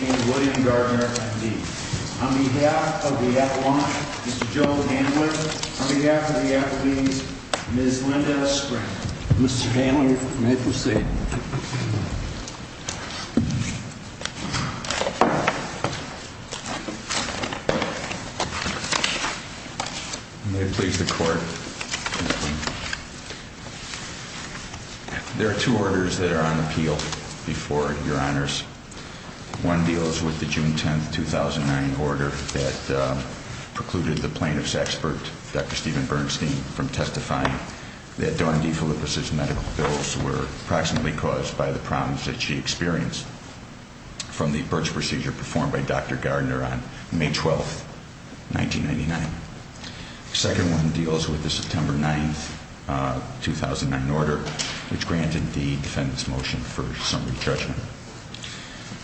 and William Gardner, M.D. On behalf of the athlete, Mr. Joe Handler, on behalf of the There are two orders that are on appeal before your honors. One deals with the June 10th, 2009 order that precluded the plaintiff's expert, Dr. Steven Bernstein, from testifying that Dawn D. Filippis' medical bills were approximately caused by the problems that she experienced from the birch procedure performed by Dr. Gardner on May 12th, 1999. The second one deals with the September 9th, 2009 order, which granted the defendant's motion for summary judgment.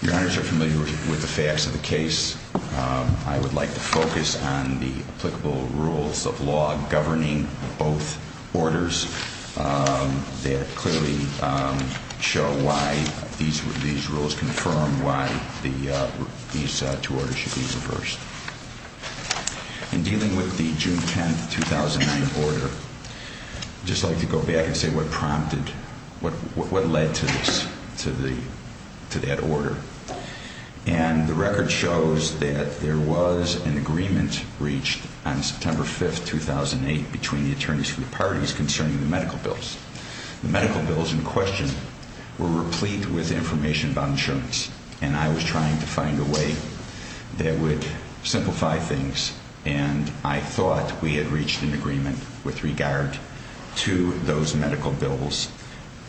Your honors are familiar with the facts of the case. I would like to focus on the applicable rules of law governing both orders that clearly show why these rules confirm why these two orders should be reversed. In dealing with the June 10th, 2009 order, I'd just like to go back and say what prompted, what led to this, to that order. And the record shows that there was an agreement reached on September 5th, 2008 between the attorneys from the parties concerning the medical bills. The medical bills in question were replete with information about insurance, and I was trying to find a way that would simplify things, and I thought we had reached an agreement with regard to those medical bills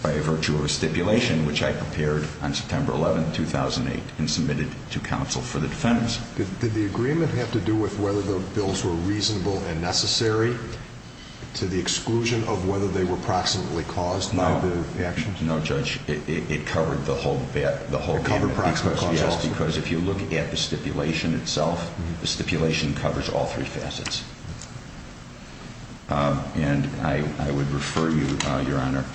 by virtue of a stipulation which I prepared on September 11th, 2008 and submitted to counsel for the defendants. Did the agreement have to do with whether the bills were reasonable and necessary to the exclusion of whether they were proximately caused by the actions? No, Judge, it covered the whole bit. It covered proximately caused? Yes, because if you look at the stipulation itself, the stipulation covers all three facets. And I would refer you, Your Honor,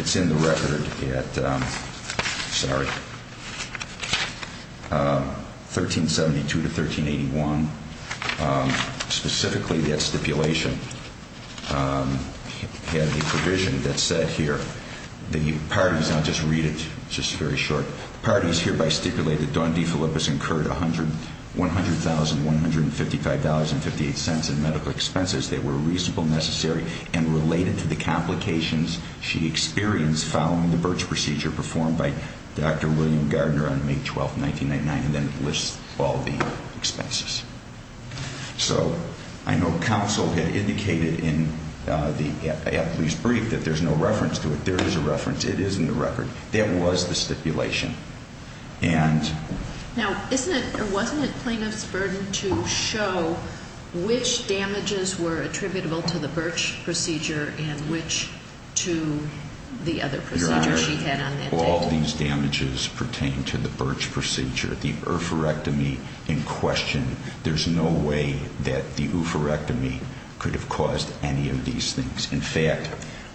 it's in the record at, sorry, 1372 to 1381. Specifically, that stipulation had a provision that said here, the parties, I'll just read it, it's just very short, the parties hereby stipulate that Dawn DeFilippis incurred $100,000, $155,058 in medical expenses that were reasonable, necessary, and related to the complications she experienced following the Birch procedure performed by Dr. William Gardner on May 12, 1999, and then lists all the expenses. So I know counsel had indicated in the athlete's brief that there's no reference to it. There is a reference. It is in the record. That was the stipulation. And... Now, isn't it or wasn't it plaintiff's burden to show which damages were attributable to the Birch procedure and which to the other procedures she had on that day? No, all of these damages pertain to the Birch procedure. The oophorectomy in question, there's no way that the oophorectomy could have caused any of these things. In fact,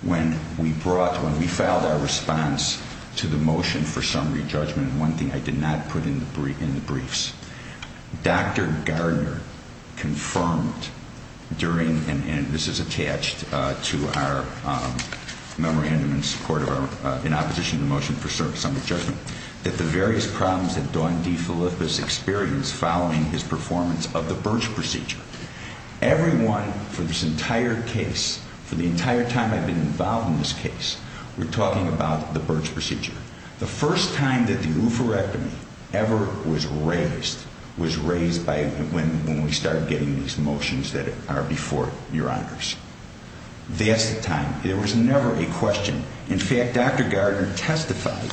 when we brought, when we filed our response to the motion for summary judgment, and one thing I did not put in the briefs, Dr. Gardner confirmed during, and this is attached to our memorandum in support of our, in opposition to the motion, the motion for summary judgment, that the various problems that Dawn DeFilippis experienced following his performance of the Birch procedure, everyone for this entire case, for the entire time I've been involved in this case, we're talking about the Birch procedure. The first time that the oophorectomy ever was raised was raised by when we started getting these motions that are before your honors. That's the time. There was never a question. In fact, Dr. Gardner testified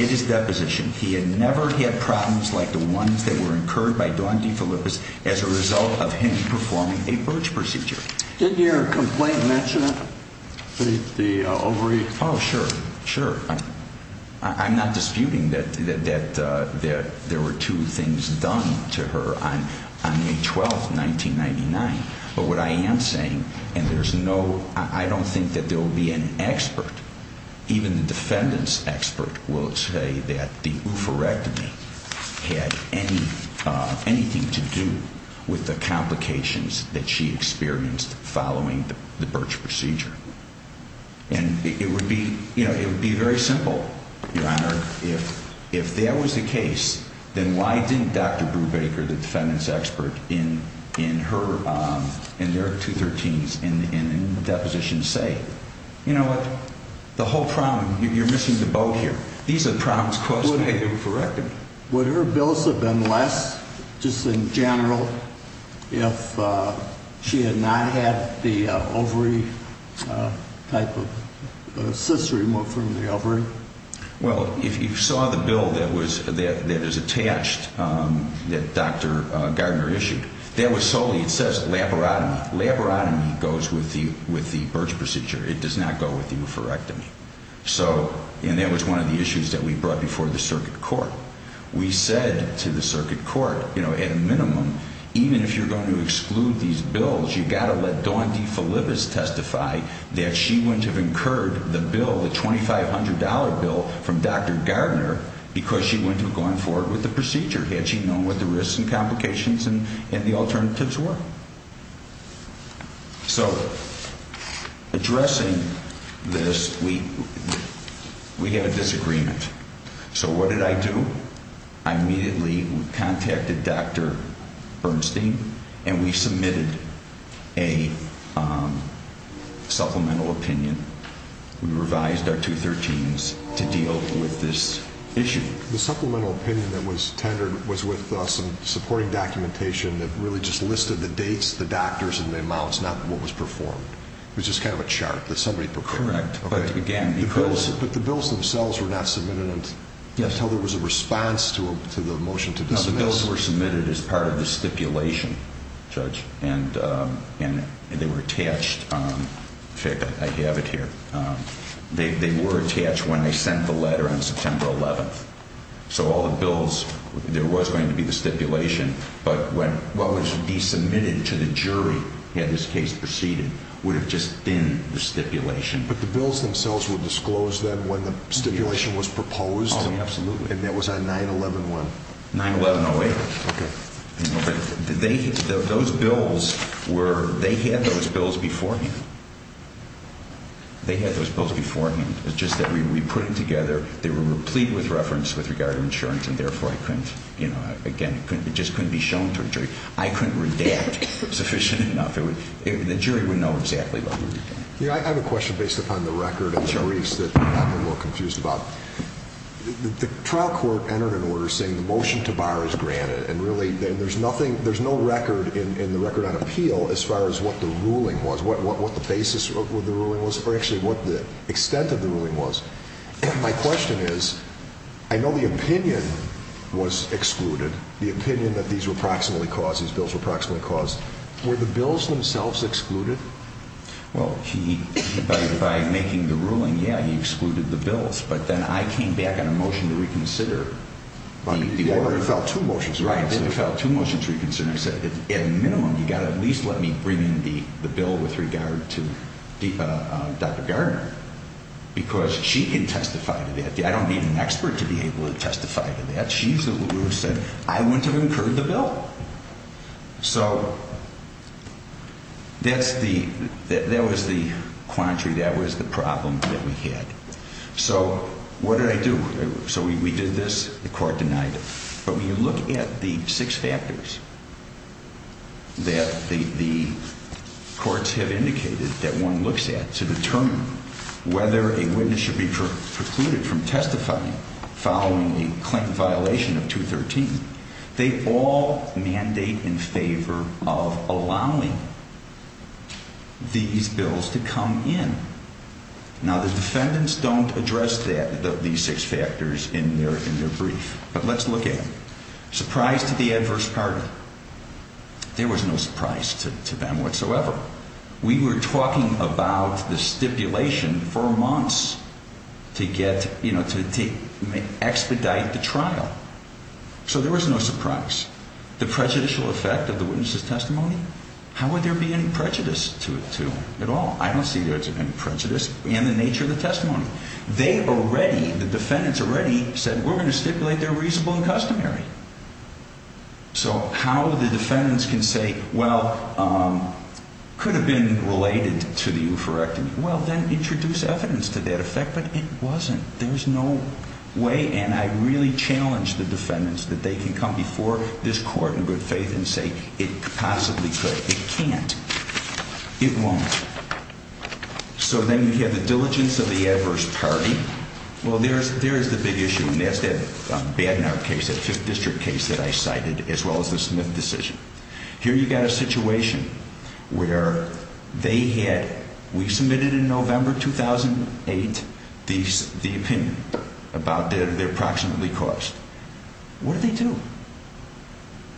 in his deposition he had never had problems like the ones that were incurred by Dawn DeFilippis as a result of him performing a Birch procedure. Did your complaint mention it? The ovary? Oh, sure, sure. I'm not disputing that there were two things done to her on May 12th, 1999. But what I am saying, and there's no, I don't think that there will be an expert, even the defendant's expert will say that the oophorectomy had anything to do with the complications that she experienced following the Birch procedure. And it would be, you know, it would be very simple, your honor, if that was the case, then why didn't Dr. Brubaker, the defendant's expert, in her, in their 213s, in the deposition say, you know what, the whole problem, you're missing the boat here. These are the problems caused by the oophorectomy. Would her bills have been less, just in general, if she had not had the ovary type of cysts removed from the ovary? Well, if you saw the bill that was, that is attached, that Dr. Gardner issued, that was solely, it says, laborotomy. Laborotomy goes with the, with the Birch procedure. It does not go with the oophorectomy. So, and that was one of the issues that we brought before the circuit court. We said to the circuit court, you know, at a minimum, even if you're going to exclude these bills, you've got to let Dawn DeFelipis testify that she wouldn't have incurred the bill, the $2,500 bill from Dr. Gardner because she wouldn't have gone forward with the procedure had she known what the risks and complications and the alternatives were. So, addressing this, we, we had a disagreement. So what did I do? I immediately contacted Dr. Bernstein and we submitted a supplemental opinion. We revised our 213s to deal with this issue. The supplemental opinion that was tendered was with some supporting documentation that really just listed the dates, the doctors, and the amounts, not what was performed. It was just kind of a chart that somebody prepared. Correct. But again, because... But the bills themselves were not submitted until there was a response to the motion to dismiss. The bills were submitted as part of the stipulation, Judge, and they were attached. In fact, I have it here. They were attached when they sent the letter on September 11th. So all the bills, there was going to be the stipulation, but what would be submitted to the jury had this case proceeded would have just been the stipulation. But the bills themselves were disclosed then when the stipulation was proposed? Oh, absolutely. And that was on 9-11-1? 9-11-08. Okay. Those bills were, they had those bills beforehand. They had those bills beforehand. It's just that we put it together, they were replete with reference with regard to insurance, and therefore I couldn't, you know, again, it just couldn't be shown to a jury. I couldn't redact sufficient enough. The jury would know exactly what we were doing. Yeah, I have a question based upon the record of the briefs that I'm a little confused about. The trial court entered an order saying the motion to bar is granted, and really there's nothing, there's no record in the record on appeal as far as what the ruling was, what the basis of the ruling was, or actually what the extent of the ruling was. My question is, I know the opinion was excluded, the opinion that these were proximately caused, these bills were proximately caused. Were the bills themselves excluded? Well, he, by making the ruling, yeah, he excluded the bills, but then I came back on a motion to reconsider. Well, you already filed two motions. Right, so I filed two motions to reconsider. I said, at minimum, you've got to at least let me bring in the bill with regard to Dr. Gardner, because she can testify to that. I don't need an expert to be able to testify to that. She's the one who said, I wouldn't have incurred the bill. So that's the, that was the quandary, that was the problem that we had. So what did I do? So we did this, the court denied it. But when you look at the six factors that the courts have indicated that one looks at to determine whether a witness should be precluded from testifying following a claim violation of 213, they all need to be included. So the defendants have a mandate in favor of allowing these bills to come in. Now, the defendants don't address that, these six factors, in their brief. But let's look at them. Surprise to the adverse party. There was no surprise to them whatsoever. We were talking about the stipulation for months to get, you know, to expedite the trial. So there was no surprise. The prejudicial effect of the witness's testimony, how would there be any prejudice to it at all? I don't see there's any prejudice in the nature of the testimony. They already, the defendants already said, we're going to stipulate they're reasonable and customary. So how the defendants can say, well, could have been related to the oophorectomy. Well, then introduce evidence to that effect, but it wasn't. There's no way, and I really challenge the defendants that they can come before this court in good faith and say it possibly could. It can't. It won't. So then you have the diligence of the adverse party. Well, there is the big issue, and that's that Bagnard case, that 5th District case that I cited, as well as the Smith decision. Here you've got a situation where they had, we submitted in November 2008 the opinion about their approximately cost. What did they do?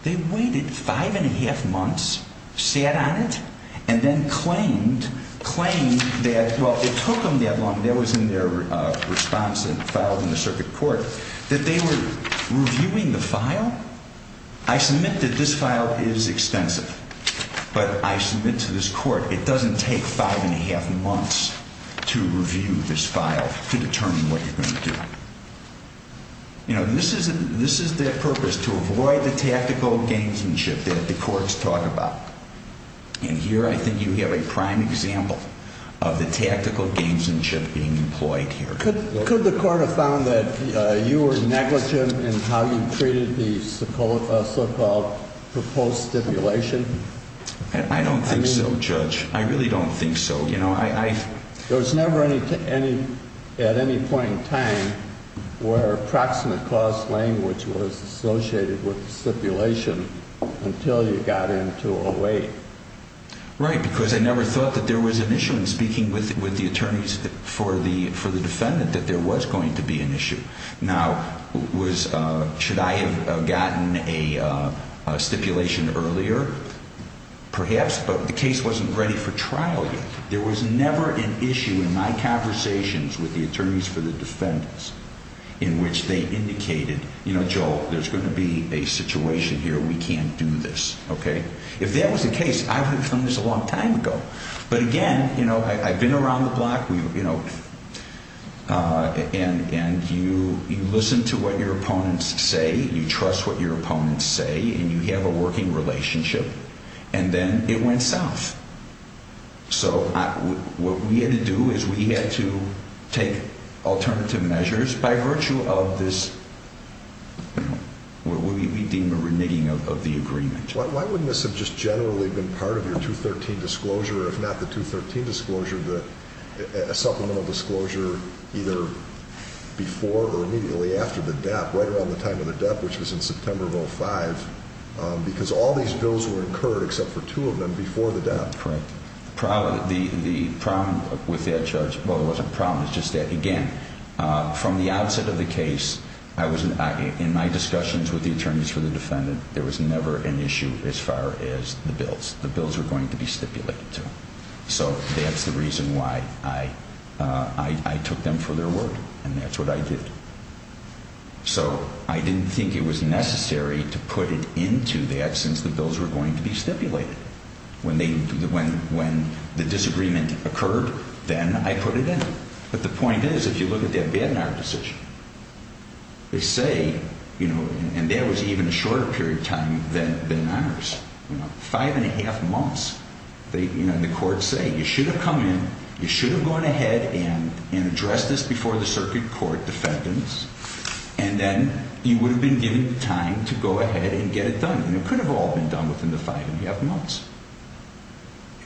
They waited five and a half months, sat on it, and then claimed, claimed that, well, it took them that long. That was in their response that was filed in the circuit court, that they were reviewing the file. I submit that this file is extensive, but I submit to this court it doesn't take five and a half months to review this file to determine what you're going to do. You know, this is their purpose, to avoid the tactical gamesmanship that the courts talk about. And here I think you have a prime example of the tactical gamesmanship being employed here. Could the court have found that you were negligent in how you treated the so-called proposed stipulation? I don't think so, Judge. I really don't think so. There was never at any point in time where approximate cost language was associated with stipulation until you got into 08. Right, because I never thought that there was an issue in speaking with the attorneys for the defendant that there was going to be an issue. Now, should I have gotten a stipulation earlier? Perhaps, but the case wasn't ready for trial yet. There was never an issue in my conversations with the attorneys for the defendants in which they indicated, you know, Joel, there's going to be a situation here. We can't do this. Okay? If that was the case, I would have done this a long time ago. But again, you know, I've been around the block, you know, and you listen to what your opponents say, you trust what your opponents say, and you have a working relationship. And then it went south. So what we had to do is we had to take alternative measures by virtue of this, what we deem a reneging of the agreement. Why wouldn't this have just generally been part of your 213 disclosure, if not the 213 disclosure, a supplemental disclosure either before or immediately after the debt, right around the time of the debt, which was in September of 05? Because all these bills were incurred except for two of them before the debt. Correct. The problem with that, Judge, well, it wasn't a problem. It's just that, again, from the outset of the case, in my discussions with the attorneys for the defendant, there was never an issue as far as the bills. The bills were going to be stipulated to them. So that's the reason why I took them for their word, and that's what I did. So I didn't think it was necessary to put it into that since the bills were going to be stipulated. When the disagreement occurred, then I put it in. But the point is, if you look at that Bednar decision, they say, and that was even a shorter period of time than ours, five and a half months. And the courts say, you should have come in, you should have gone ahead and addressed this before the circuit court defendants, and then you would have been given time to go ahead and get it done. And it could have all been done within the five and a half months.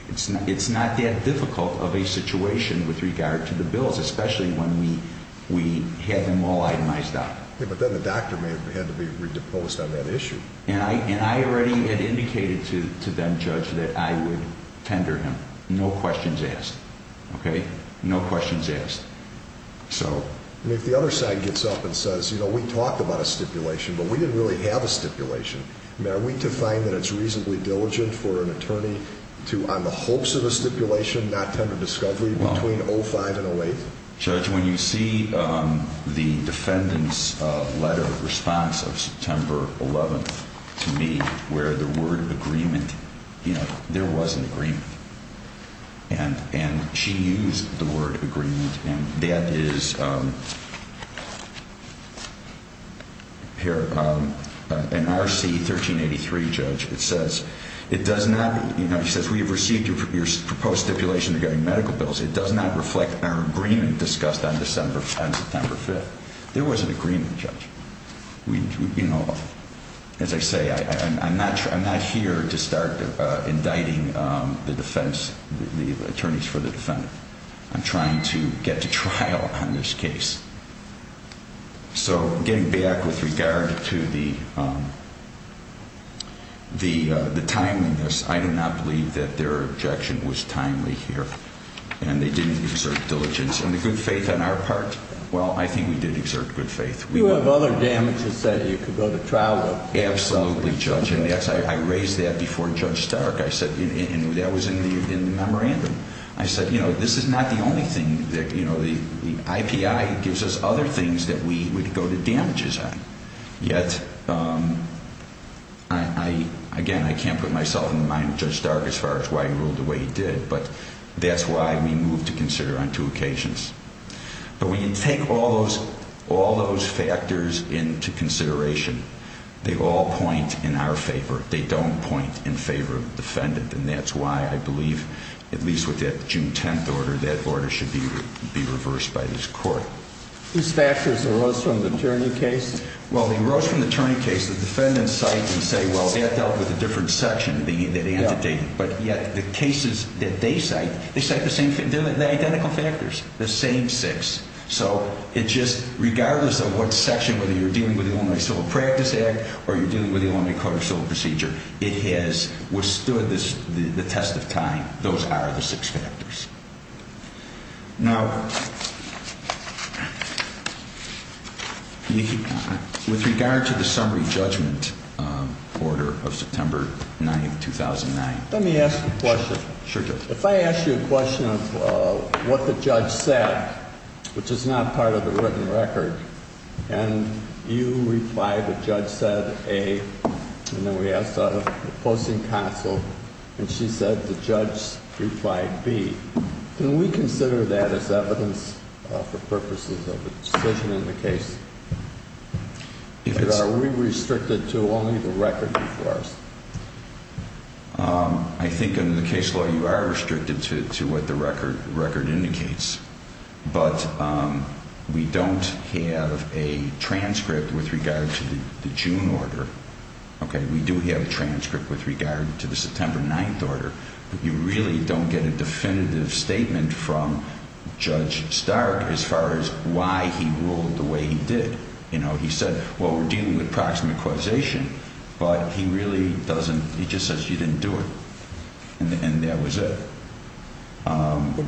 It's not that difficult of a situation with regard to the bills, especially when we had them all itemized out. But then the doctor may have had to be re-deposed on that issue. And I already had indicated to them, Judge, that I would tender him. No questions asked. Okay? No questions asked. So if the other side gets up and says, you know, we talked about a stipulation, but we didn't really have a stipulation, are we to find that it's reasonably diligent for an attorney to, on the hopes of a stipulation, not tender discovery between 05 and 08? Judge, when you see the defendant's letter response of September 11th to me, where the word agreement, you know, there was an agreement. And she used the word agreement. And that is, here, in RC 1383, Judge, it says, it does not, you know, it says we have received your proposed stipulation regarding medical bills. It does not reflect our agreement discussed on September 5th. There was an agreement, Judge. You know, as I say, I'm not here to start indicting the defense, the attorneys for the defendant. I'm trying to get to trial on this case. So getting back with regard to the timeliness, I do not believe that their objection was timely here. And they didn't exert diligence. And the good faith on our part, well, I think we did exert good faith. You have other damages that you could go to trial with. Absolutely, Judge. I raised that before Judge Stark. I said, and that was in the memorandum. I said, you know, this is not the only thing that, you know, the IPI gives us other things that we could go to damages on. Yet, again, I can't put myself in the mind of Judge Stark as far as why he ruled the way he did. But that's why we moved to consider on two occasions. But when you take all those factors into consideration, they all point in our favor. They don't point in favor of the defendant. And that's why I believe, at least with that June 10th order, that order should be reversed by this court. These factors arose from the turning case? Well, they arose from the turning case. The defendants cite and say, well, that dealt with a different section. But yet the cases that they cite, they cite the identical factors, the same six. So it's just regardless of what section, whether you're dealing with the Illinois Civil Practice Act or you're dealing with the Illinois Code of Civil Procedure, it has withstood the test of time. Those are the six factors. Now, with regard to the summary judgment order of September 9th, 2009. Let me ask you a question. Sure, Judge. Which is not part of the written record. And you reply, the judge said A. And then we asked the opposing counsel, and she said the judge replied B. Can we consider that as evidence for purposes of a decision in the case? Are we restricted to only the record before us? I think under the case law, you are restricted to what the record indicates. But we don't have a transcript with regard to the June order. OK, we do have a transcript with regard to the September 9th order. But you really don't get a definitive statement from Judge Stark as far as why he ruled the way he did. You know, he said, well, we're dealing with proximate causation. But he really doesn't. He just says you didn't do it. And that was it.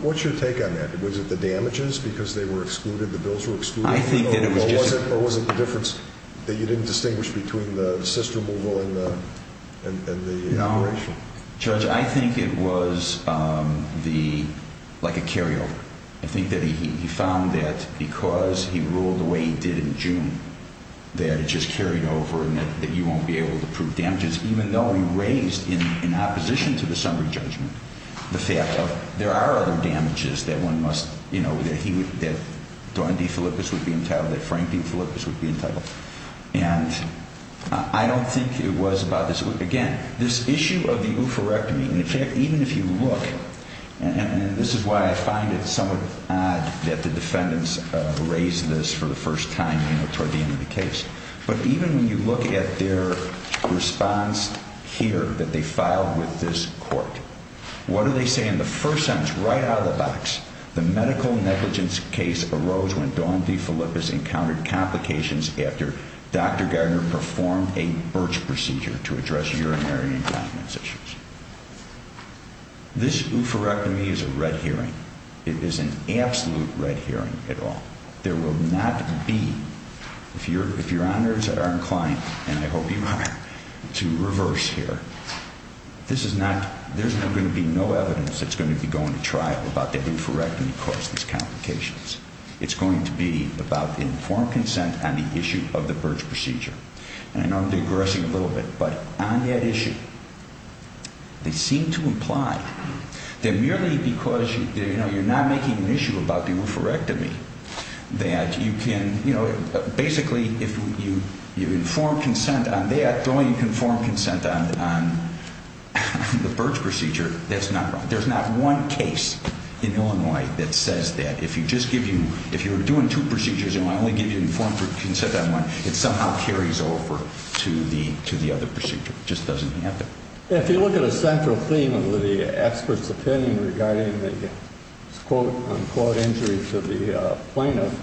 What's your take on that? Was it the damages because they were excluded? The bills were excluded? I think that it was just. Or was it the difference that you didn't distinguish between the cyst removal and the operation? Judge, I think it was like a carryover. I think that he found that because he ruled the way he did in June, that it just carried over and that you won't be able to prove damages, even though he raised in opposition to the summary judgment the fact of there are other damages that one must, you know, that he would, that Dawn D. Philippus would be entitled, that Frank D. Philippus would be entitled. And I don't think it was about this. Again, this issue of the oophorectomy. And in fact, even if you look, and this is why I find it somewhat odd that the defendants raised this for the first time, you know, toward the end of the case, but even when you look at their response here that they filed with this court, what do they say in the first sentence right out of the box? The medical negligence case arose when Dawn D. Philippus encountered complications after Dr. Gardner performed a birch procedure to address urinary incontinence issues. This oophorectomy is a red herring. It is an absolute red herring at all. There will not be, if your honors are inclined, and I hope you are, to reverse here, this is not, there's going to be no evidence that's going to be going to trial about the oophorectomy caused these complications. It's going to be about informed consent on the issue of the birch procedure. And I know I'm digressing a little bit, but on that issue, they seem to imply that merely because, you know, you're not making an issue about the oophorectomy, that you can, you know, that's not right. There's not one case in Illinois that says that. If you just give you, if you're doing two procedures and I only give you informed consent on one, it somehow carries over to the other procedure. It just doesn't happen. If you look at a central theme of the expert's opinion regarding the quote unquote injury to the plaintiff,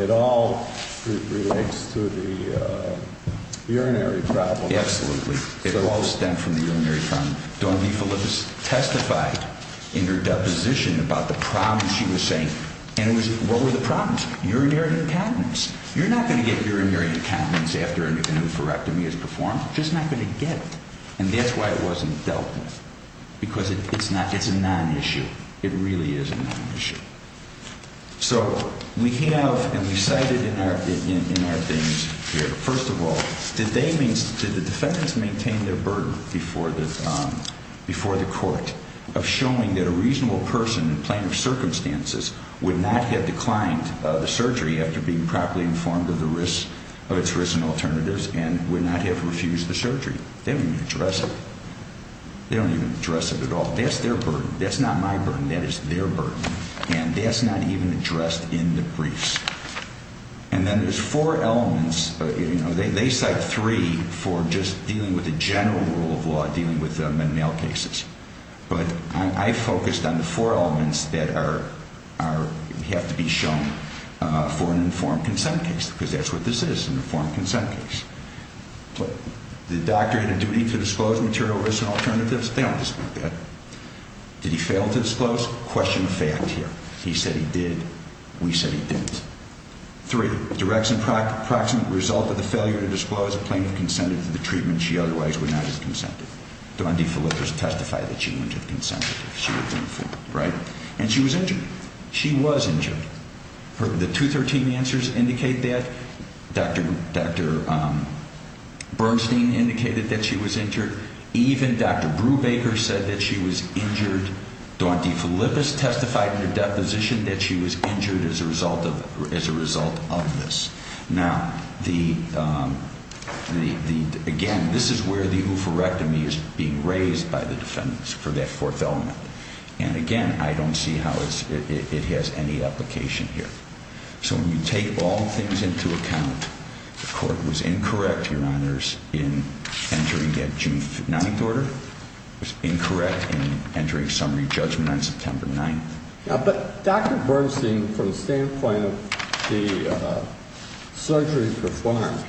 it all relates to the urinary problem. Absolutely. It all stemmed from the urinary problem. Dawn DeFilippis testified in her deposition about the problems she was saying. And it was, what were the problems? Urinary incontinence. You're not going to get urinary incontinence after an oophorectomy is performed. Just not going to get it. And that's why it wasn't dealt with. Because it's not, it's a non-issue. It really is a non-issue. So, we have, and we've cited in our, in our things here. First of all, did they, did the defendants maintain their burden before the court of showing that a reasonable person in plaintiff's circumstances would not have declined the surgery after being properly informed of the risks, of its risks and alternatives, and would not have refused the surgery? They don't even address it. They don't even address it at all. That's their burden. That's not my burden. That is their burden. And that's not even addressed in the briefs. And then there's four elements, you know, they cite three for just dealing with the general rule of law, dealing with men and male cases. But I focused on the four elements that are, are, have to be shown for an informed consent case. Because that's what this is, an informed consent case. Did the doctor have a duty to disclose material risks and alternatives? They don't disclose that. Did he fail to disclose? Question of fact here. He said he did. We said he didn't. Three, directs and proximate result of the failure to disclose a plaintiff consented to the treatment she otherwise would not have consented. Daunte Philippus testified that she wouldn't have consented if she was informed. Right? And she was injured. She was injured. The 213 answers indicate that. Dr. Bernstein indicated that she was injured. Even Dr. Brubaker said that she was injured. Daunte Philippus testified in her deposition that she was injured as a result of, as a result of this. Now, the, the, the, again, this is where the oophorectomy is being raised by the defendants for that fourth element. And again, I don't see how it's, it has any application here. So when you take all things into account, the court was incorrect, Your Honors, in entering that June 9th order. It was incorrect in entering summary judgment on September 9th. But Dr. Bernstein, from the standpoint of the surgery performed,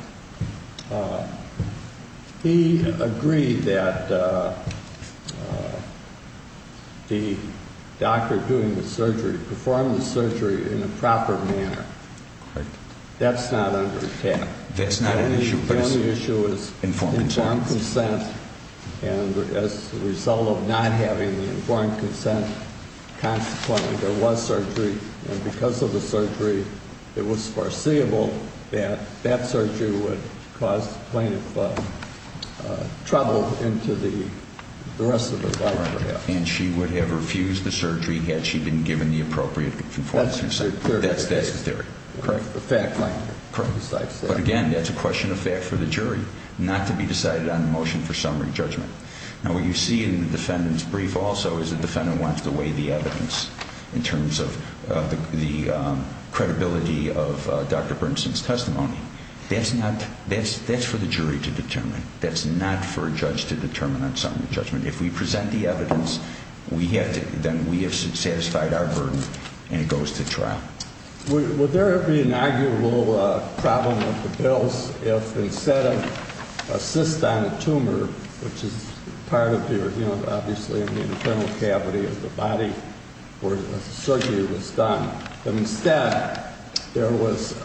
he agreed that the doctor doing the surgery performed the surgery in a proper manner. Correct. That's not under attack. That's not an issue. The only issue is informed consent. Informed consent. And as a result of not having the informed consent, consequently there was surgery. And because of the surgery, it was foreseeable that that surgery would cause the plaintiff trouble into the rest of her life. And she would have refused the surgery had she been given the appropriate informed consent. That's the theory. That's the theory. Correct. The fact line. But again, that's a question of fact for the jury, not to be decided on the motion for summary judgment. Now what you see in the defendant's brief also is the defendant wants to weigh the evidence in terms of the credibility of Dr. Bernstein's testimony. That's not, that's for the jury to determine. That's not for a judge to determine on summary judgment. If we present the evidence, we have to, then we have satisfied our burden and it goes to trial. Would there ever be an arguable problem with the bills if instead of a cyst on a tumor, which is part of your, you know, obviously the internal cavity of the body where the surgery was done, if instead there was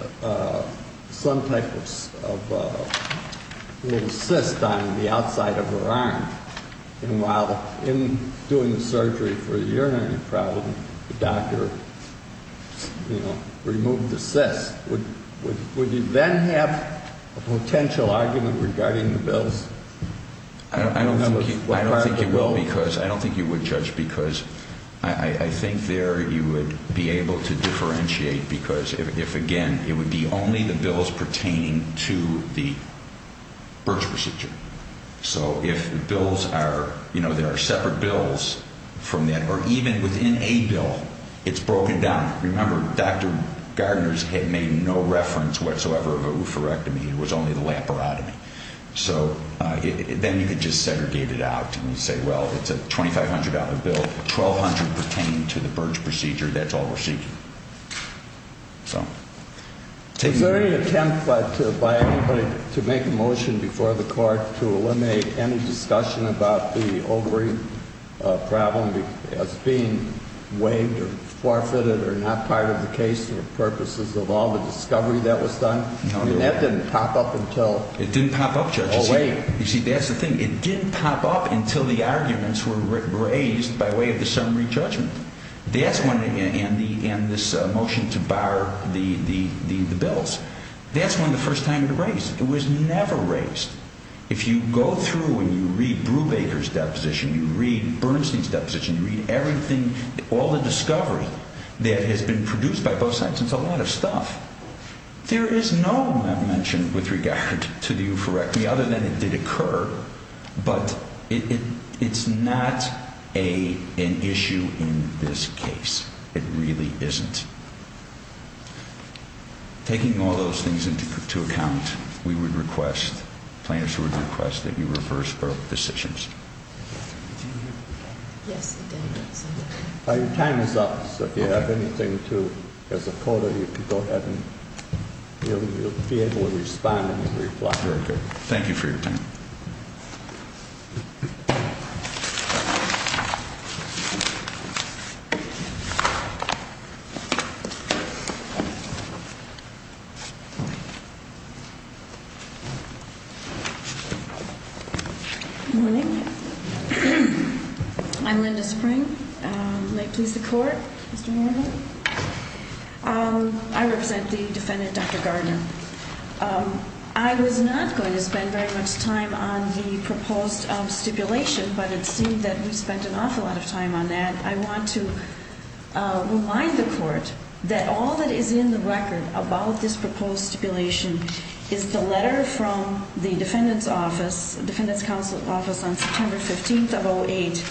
some type of little cyst on the outside of her arm, and while in doing the surgery for a urinary problem, the doctor, you know, removed the cyst, would you then have a potential argument regarding the bills? I don't think you will because, I don't think you would judge because I think there you would be able to differentiate because if, again, it would be only the bills pertaining to the birth procedure. So if bills are, you know, there are separate bills from that or even within a bill, it's broken down. Remember, Dr. Gardner's had made no reference whatsoever of a oophorectomy. It was only the laparotomy. So then you could just segregate it out and say, well, it's a $2,500 bill. $1,200 pertaining to the birth procedure. That's all we're seeking. Was there any attempt by anybody to make a motion before the Court to eliminate any discussion about the ovary problem as being waived or forfeited or not part of the case for purposes of all the discovery that was done? No, Your Honor. And that didn't pop up until? It didn't pop up, Judge. Oh, wait. You see, that's the thing. It didn't pop up until the arguments were raised by way of the summary judgment. That's when, and this motion to bar the bills, that's when the first time it was raised. It was never raised. If you go through and you read Brubaker's deposition, you read Bernstein's deposition, you read everything, all the discovery that has been produced by both sides, it's a lot of stuff. There is no mention with regard to the oophorectomy other than it did occur, but it's not an issue in this case. It really isn't. Taking all those things into account, we would request, plaintiffs would request that you reverse our decisions. Yes, again, so. Your time is up, so if you have anything to, as a quarter, you can go ahead and you'll be able to respond and reply. Very good. Thank you for your time. Good morning. I'm Linda Spring. May it please the Court, Mr. Norman. I represent the defendant, Dr. Gardner. I was not going to spend very much time on the proposed stipulation, but it seemed that we spent an awful lot of time on that. I want to remind the Court that all that is in the record about this proposed stipulation is the letter from the defendant's office, the defendant's counsel's office, on September 15th of 08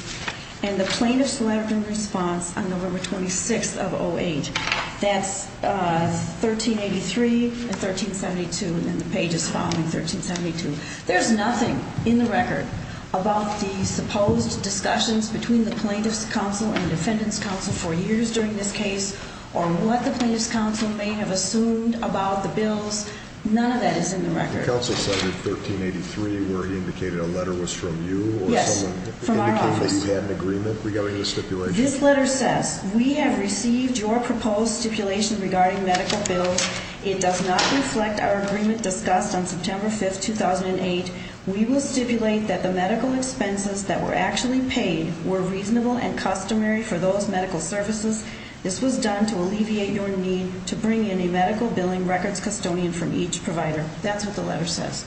and the plaintiff's letter in response on November 26th of 08. That's 1383 and 1372, and the page is following 1372. There's nothing in the record about the supposed discussions between the plaintiff's counsel and the defendant's counsel for years during this case or what the plaintiff's counsel may have assumed about the bills. None of that is in the record. The counsel cited 1383 where he indicated a letter was from you? Yes, from our office. Or someone indicated that you had an agreement regarding the stipulation? This letter says, We have received your proposed stipulation regarding medical bills. It does not reflect our agreement discussed on September 5th, 2008. We will stipulate that the medical expenses that were actually paid were reasonable and customary for those medical services. This was done to alleviate your need to bring in a medical billing records custodian from each provider. That's what the letter says.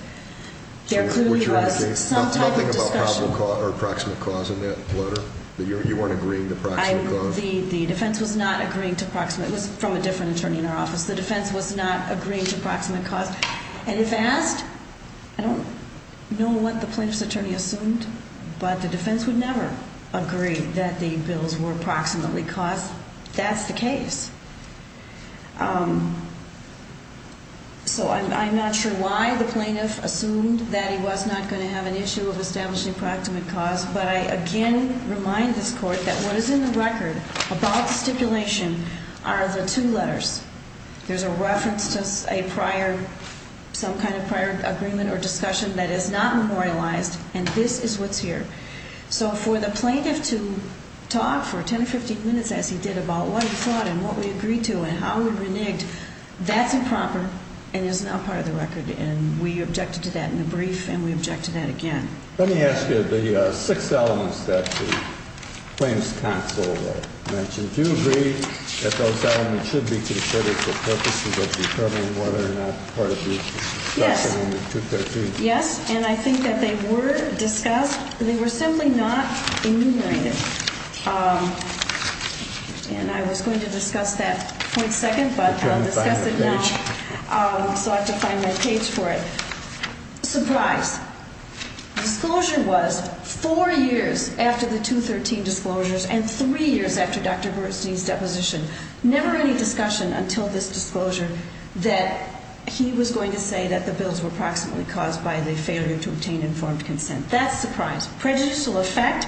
There clearly was some type of discussion. There was no probable cause or approximate cause in that letter? You weren't agreeing to approximate cause? The defense was not agreeing to approximate. It was from a different attorney in our office. The defense was not agreeing to approximate cause. And if asked, I don't know what the plaintiff's attorney assumed, but the defense would never agree that the bills were approximately caused. That's the case. So I'm not sure why the plaintiff assumed that he was not going to have an issue of establishing approximate cause, but I again remind this court that what is in the record about the stipulation are the two letters. There's a reference to a prior, some kind of prior agreement or discussion that is not memorialized, and this is what's here. So for the plaintiff to talk for 10 or 15 minutes as he did about what he thought and what we agreed to and how we reneged, that's improper and is not part of the record. And we objected to that in the brief, and we objected to that again. Let me ask you, the six elements that the claims counsel mentioned, do you agree that those elements should be considered for purposes of determining whether or not part of the discussion in the 213? Yes, and I think that they were discussed. They were simply not enumerated. And I was going to discuss that for a second, but I'll discuss it now. So I have to find my page for it. Surprise. Disclosure was four years after the 213 disclosures and three years after Dr. Bernstein's deposition. Never any discussion until this disclosure that he was going to say that the bills were approximately caused by the failure to obtain informed consent. That's surprise. Prejudice will affect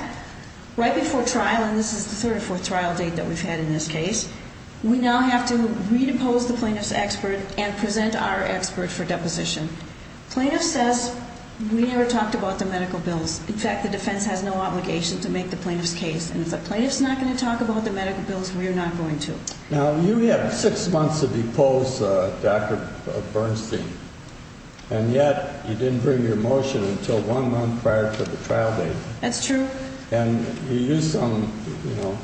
right before trial, and this is the third or fourth trial date that we've had in this case. We now have to re-depose the plaintiff's expert and present our expert for deposition. Plaintiff says we never talked about the medical bills. In fact, the defense has no obligation to make the plaintiff's case. And if the plaintiff's not going to talk about the medical bills, we are not going to. Now, you have six months to depose Dr. Bernstein, and yet you didn't bring your motion until one month prior to the trial date. That's true. And you used some, you know,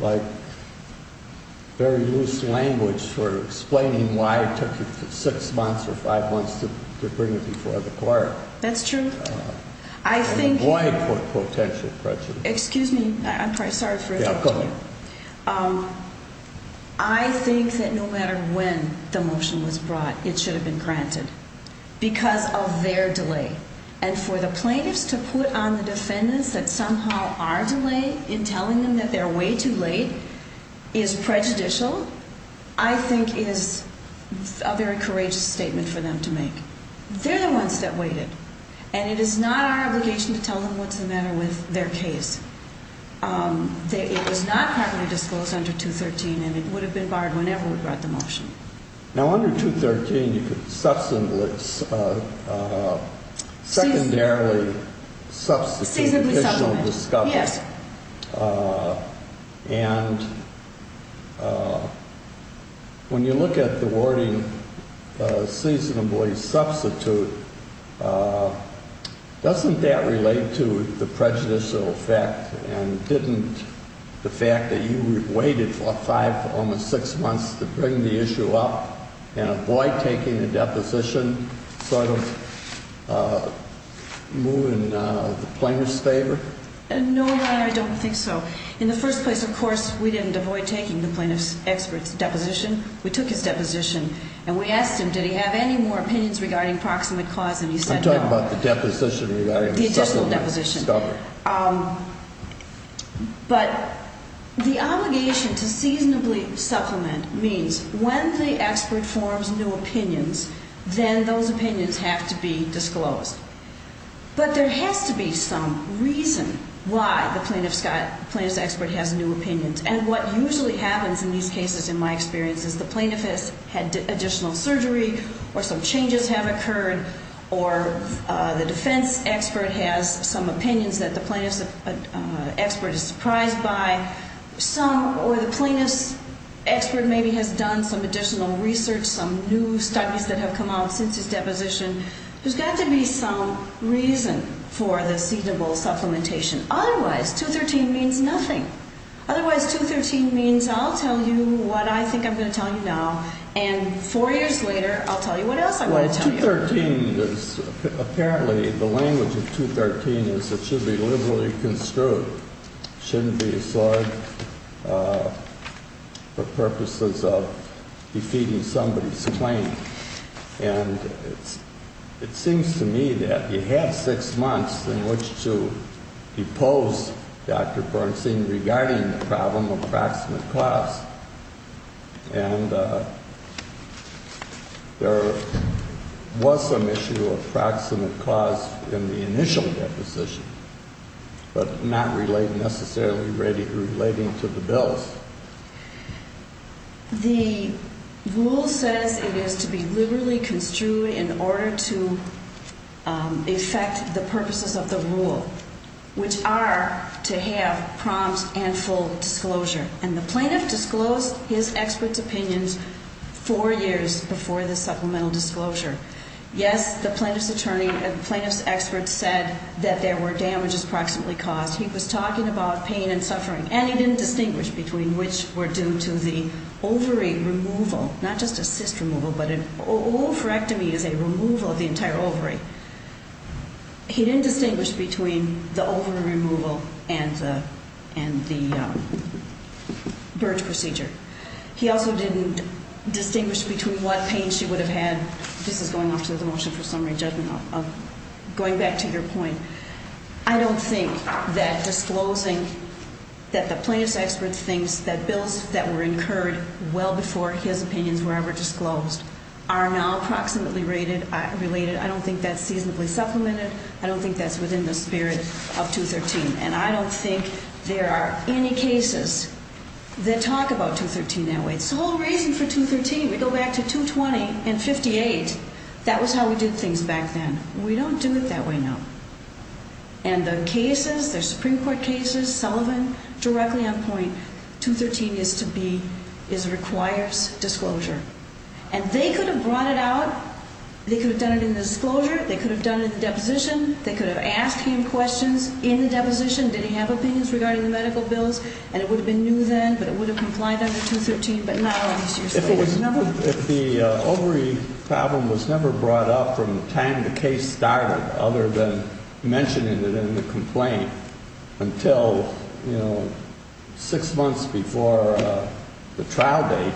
like very loose language for explaining why it took you six months or five months to bring it before the court. That's true. And avoid potential prejudice. Excuse me. I'm sorry for interrupting you. Yeah, go ahead. I think that no matter when the motion was brought, it should have been granted because of their delay. And for the plaintiffs to put on the defendants that somehow our delay in telling them that they're way too late is prejudicial, I think is a very courageous statement for them to make. They're the ones that waited, and it is not our obligation to tell them what's the matter with their case. It was not properly disposed under 213, and it would have been barred whenever we brought the motion. Now, under 213, you could secondarily substitute additional discussion. Yes. And when you look at the wording, seasonably substitute, doesn't that relate to the prejudicial effect? And didn't the fact that you waited for five, almost six months to bring the issue up and avoid taking a deposition sort of move in the plaintiff's favor? No, Your Honor, I don't think so. In the first place, of course, we didn't avoid taking the plaintiff's expert's deposition. We took his deposition, and we asked him, did he have any more opinions regarding proximate cause, and he said no. I'm talking about the deposition regarding the supplement. The additional deposition. But the obligation to seasonably supplement means when the expert forms new opinions, then those opinions have to be disclosed. But there has to be some reason why the plaintiff's expert has new opinions. And what usually happens in these cases, in my experience, is the plaintiff has had additional surgery, or some changes have occurred, or the defense expert has some opinions that the plaintiff's expert is surprised by, or the plaintiff's expert maybe has done some additional research, some new studies that have come out since his deposition. There's got to be some reason for the seasonable supplementation. Otherwise, 213 means nothing. Otherwise, 213 means I'll tell you what I think I'm going to tell you now, and four years later, I'll tell you what else I'm going to tell you. Well, 213 is, apparently, the language of 213 is it should be liberally construed. It shouldn't be assigned for purposes of defeating somebody's claim. And it seems to me that you have six months in which to depose Dr. Bernstein regarding the problem of proximate cause. And there was some issue of proximate cause in the initial deposition, but not necessarily relating to the bills. The rule says it is to be liberally construed in order to effect the purposes of the rule, which are to have prompt and full disclosure. And the plaintiff disclosed his expert's opinions four years before the supplemental disclosure. Yes, the plaintiff's attorney and plaintiff's expert said that there were damages proximately caused. He was talking about pain and suffering, and he didn't distinguish between which were due to the ovary removal. Not just a cyst removal, but an oophorectomy is a removal of the entire ovary. He didn't distinguish between the ovary removal and the birth procedure. He also didn't distinguish between what pain she would have had. This is going off to the motion for summary judgment of going back to your point. I don't think that disclosing that the plaintiff's expert thinks that bills that were incurred well before his opinions were ever disclosed are now proximately related. I don't think that's seasonably supplemented. I don't think that's within the spirit of 213. And I don't think there are any cases that talk about 213 that way. It's the whole reason for 213. We go back to 220 and 58. That was how we did things back then. We don't do it that way now. And the cases, the Supreme Court cases, Sullivan directly on point, 213 is to be, is requires disclosure. And they could have brought it out. They could have done it in the disclosure. They could have done it in the deposition. They could have asked him questions in the deposition. Did he have opinions regarding the medical bills? And it would have been new then, but it would have complied under 213. If the ovary problem was never brought up from the time the case started, other than mentioning it in the complaint, until, you know, six months before the trial date,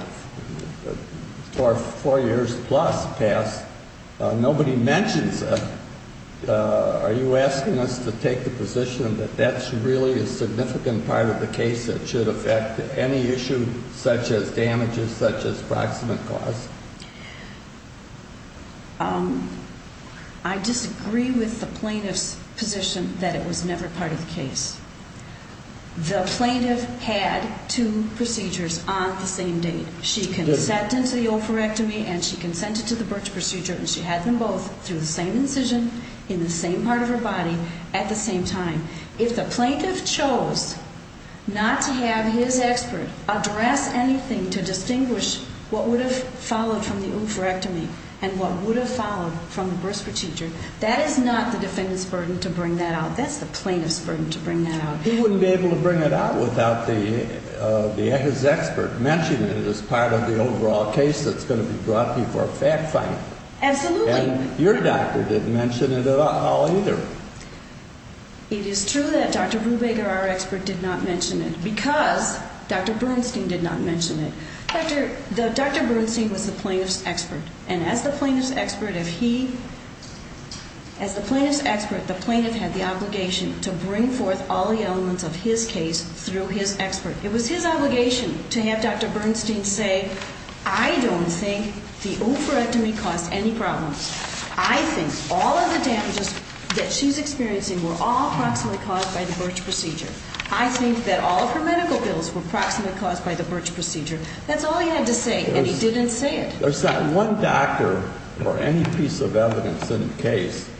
or four years plus past, nobody mentions it, are you asking us to take the position that that's really a significant part of the case that should affect any issue, such as damages, such as proximate cause? I disagree with the plaintiff's position that it was never part of the case. The plaintiff had two procedures on the same date. She consented to the ophorectomy and she consented to the BIRCWH procedure, and she had them both through the same incision in the same part of her body at the same time. If the plaintiff chose not to have his expert address anything to distinguish what would have followed from the ophorectomy and what would have followed from the BIRCWH procedure, that is not the defendant's burden to bring that out. That's the plaintiff's burden to bring that out. He wouldn't be able to bring it out without his expert mentioning it as part of the overall case that's going to be brought before a fact finding. Absolutely. And your doctor didn't mention it at all either. It is true that Dr. Brubaker, our expert, did not mention it because Dr. Bernstein did not mention it. Dr. Bernstein was the plaintiff's expert, and as the plaintiff's expert, the plaintiff had the obligation to bring forth all the elements of his case through his expert. It was his obligation to have Dr. Bernstein say, I don't think the ophorectomy caused any problems. I think all of the damages that she's experiencing were all approximately caused by the BIRCWH procedure. I think that all of her medical bills were approximately caused by the BIRCWH procedure. That's all he had to say, and he didn't say it. There's not one doctor or any piece of evidence in the case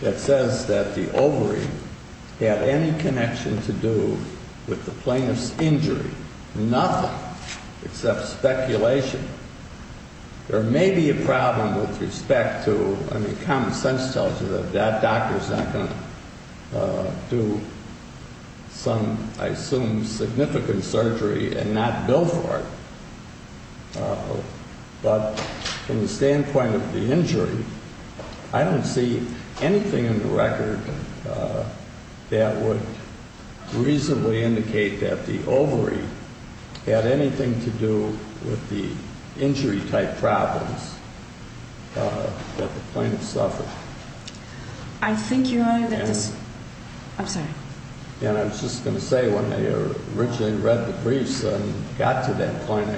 that says that the ovary had any connection to do with the plaintiff's injury. Nothing except speculation. There may be a problem with respect to, I mean, common sense tells you that that doctor's not going to do some, I assume, significant surgery and not bill for it. But from the standpoint of the injury, I don't see anything in the record that would reasonably indicate that the ovary had anything to do with the injury-type problems that the plaintiff suffered. I think, Your Honor, that this... I'm sorry. And I was just going to say, when I originally read the briefs and got to that point,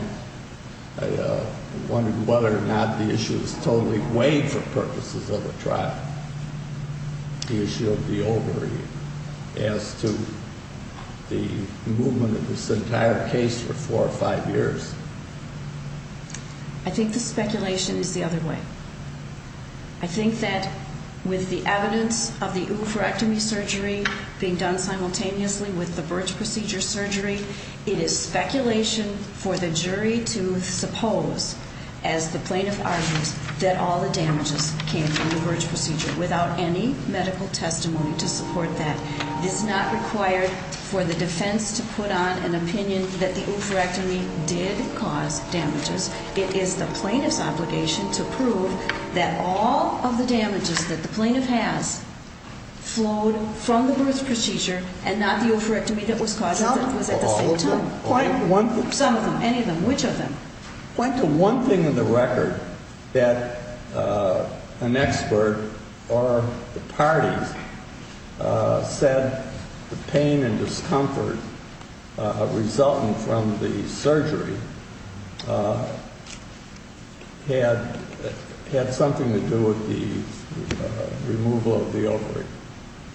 I wondered whether or not the issue was totally weighed for purposes of a trial, the issue of the ovary, as to the movement of this entire case for four or five years. I think the speculation is the other way. I think that with the evidence of the oophorectomy surgery being done simultaneously with the BIRCWH procedure surgery, it is speculation for the jury to suppose, as the plaintiff argues, that all the damages came from the BIRCWH procedure without any medical testimony to support that. It is not required for the defense to put on an opinion that the oophorectomy did cause damages. It is the plaintiff's obligation to prove that all of the damages that the plaintiff has flowed from the BIRCWH procedure and not the oophorectomy that was caused at the same time. Some of them. Any of them. Which of them? Point to one thing in the record that an expert or the parties said the pain and discomfort resulting from the surgery had something to do with the removal of the ovary.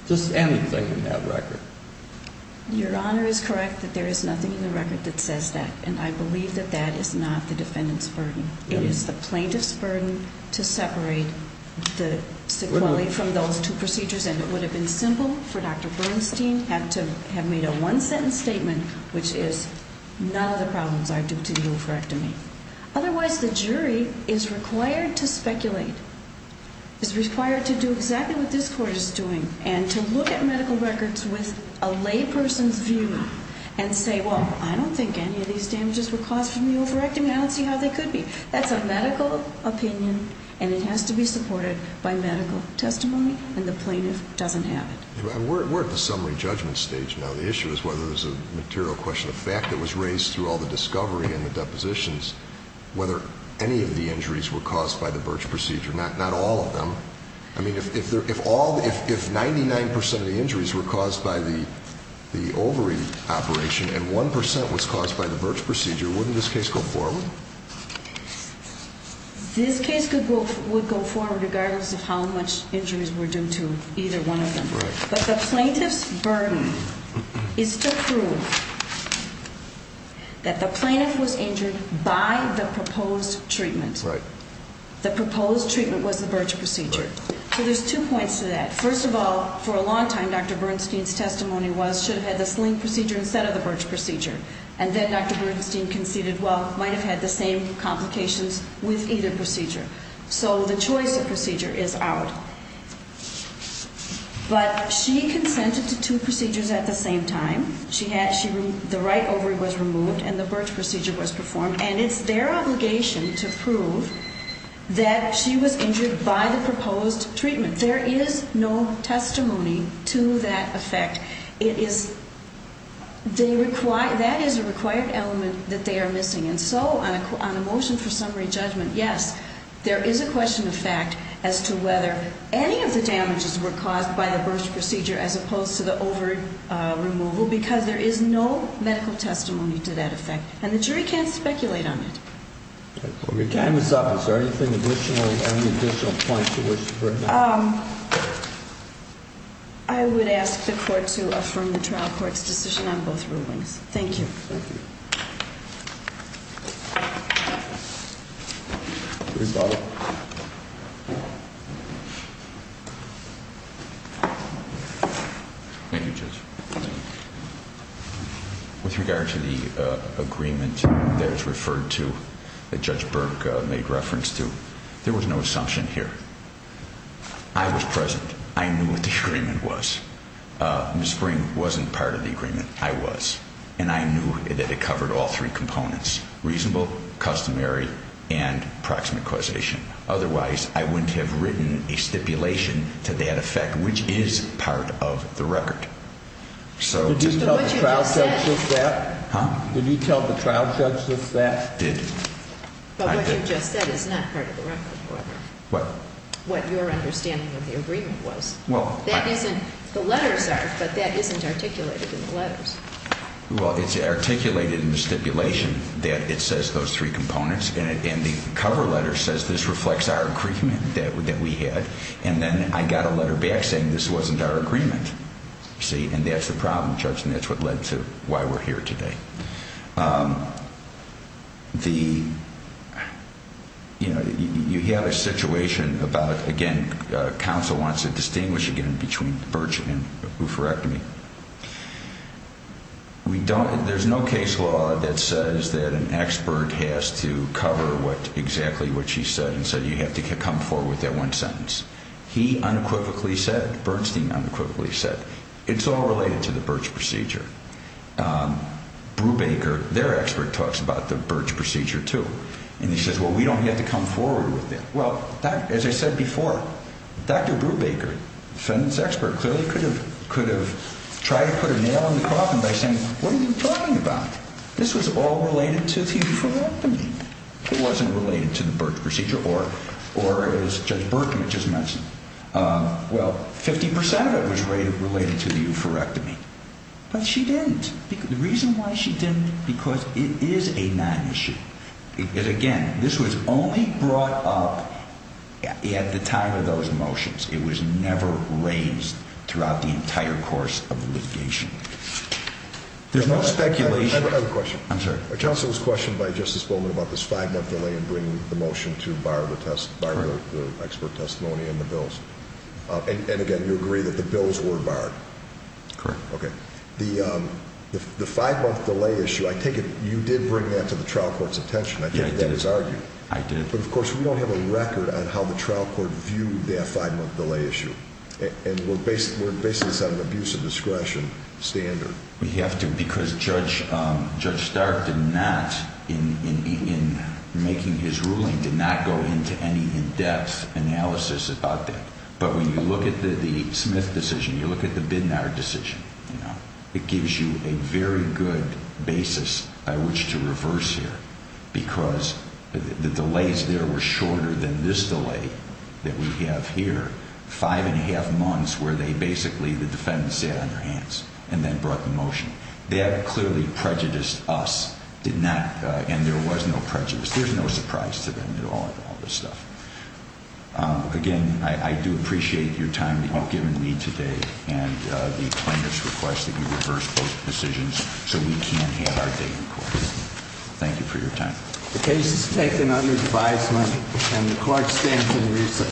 Just anything in that record. Your Honor is correct that there is nothing in the record that says that. And I believe that that is not the defendant's burden. It is the plaintiff's burden to separate the sequelae from those two procedures. And it would have been simple for Dr. Bernstein to have made a one-sentence statement, which is, none of the problems are due to the oophorectomy. Otherwise, the jury is required to speculate. It is required to do exactly what this Court is doing. And to look at medical records with a lay person's view and say, well, I don't think any of these damages were caused from the oophorectomy. I don't see how they could be. That's a medical opinion and it has to be supported by medical testimony. And the plaintiff doesn't have it. We're at the summary judgment stage now. The issue is whether there's a material question of fact that was raised through all the discovery and the depositions, whether any of the injuries were caused by the Birch procedure, not all of them. I mean, if 99% of the injuries were caused by the ovary operation and 1% was caused by the Birch procedure, wouldn't this case go forward? This case would go forward regardless of how much injuries were due to either one of them. Right. But the plaintiff's burden is to prove that the plaintiff was injured by the proposed treatment. Right. The proposed treatment was the Birch procedure. Right. So there's two points to that. First of all, for a long time, Dr. Bernstein's testimony was, should have had the sling procedure instead of the Birch procedure. And then Dr. Bernstein conceded, well, might have had the same complications with either procedure. So the choice of procedure is out. But she consented to two procedures at the same time. The right ovary was removed and the Birch procedure was performed. And it's their obligation to prove that she was injured by the proposed treatment. There is no testimony to that effect. That is a required element that they are missing. And so on a motion for summary judgment, yes, there is a question of fact as to whether any of the damages were caused by the Birch procedure as opposed to the ovary removal. Because there is no medical testimony to that effect. And the jury can't speculate on it. Well, your time is up. Is there anything additional, any additional points you wish to bring up? I would ask the court to affirm the trial court's decision on both rulings. Thank you. Thank you. Please, Bob. Thank you, Judge. With regard to the agreement that is referred to, that Judge Birch made reference to, there was no assumption here. I was present. I knew what the agreement was. Ms. Spring wasn't part of the agreement. I was. And I knew that it covered all three components, reasonable, customary, and proximate causation. Otherwise, I wouldn't have written a stipulation to that effect, which is part of the record. Did you tell the trial judge that? Huh? Did you tell the trial judge that? I did. But what you just said is not part of the record, however. What? What your understanding of the agreement was. The letters are, but that isn't articulated in the letters. Well, it's articulated in the stipulation that it says those three components, and the cover letter says this reflects our agreement that we had. And then I got a letter back saying this wasn't our agreement. See? And that's the problem, Judge, and that's what led to why we're here today. The, you know, you have a situation about, again, counsel wants to distinguish again between Birch and oophorectomy. We don't, there's no case law that says that an expert has to cover what, exactly what she said, and so you have to come forward with that one sentence. He unequivocally said, Bernstein unequivocally said, it's all related to the Birch procedure. Brubaker, their expert, talks about the Birch procedure, too, and he says, well, we don't have to come forward with it. Well, as I said before, Dr. Brubaker, defendant's expert, clearly could have tried to put a nail in the coffin by saying, what are you talking about? This was all related to the oophorectomy. It wasn't related to the Birch procedure, or as Judge Berkman just mentioned, well, 50 percent of it was related to the oophorectomy. But she didn't. The reason why she didn't, because it is a non-issue. Again, this was only brought up at the time of those motions. It was never raised throughout the entire course of the litigation. There's no speculation. I have a question. I'm sorry. Counsel was questioned by Justice Bowman about this five-month delay in bringing the motion to borrow the expert testimony and the bills. And, again, you agree that the bills were borrowed. Correct. Okay. The five-month delay issue, I take it you did bring that to the trial court's attention. I take it that was argued. I did. But, of course, we don't have a record on how the trial court viewed that five-month delay issue. And we're based on an abuse of discretion standard. We have to, because Judge Stark did not, in making his ruling, did not go into any in-depth analysis about that. But when you look at the Smith decision, you look at the Bidnar decision, it gives you a very good basis by which to reverse here, because the delays there were shorter than this delay that we have here, five-and-a-half months, where they basically, the defendants sat on their hands and then brought the motion. That clearly prejudiced us, did not, and there was no prejudice. There's no surprise to them at all in all this stuff. Again, I do appreciate your time you've given me today and the plaintiff's request that you reverse both decisions so we can have our date in court. Thank you for your time. The case is taken under advisement and the court stands in recess.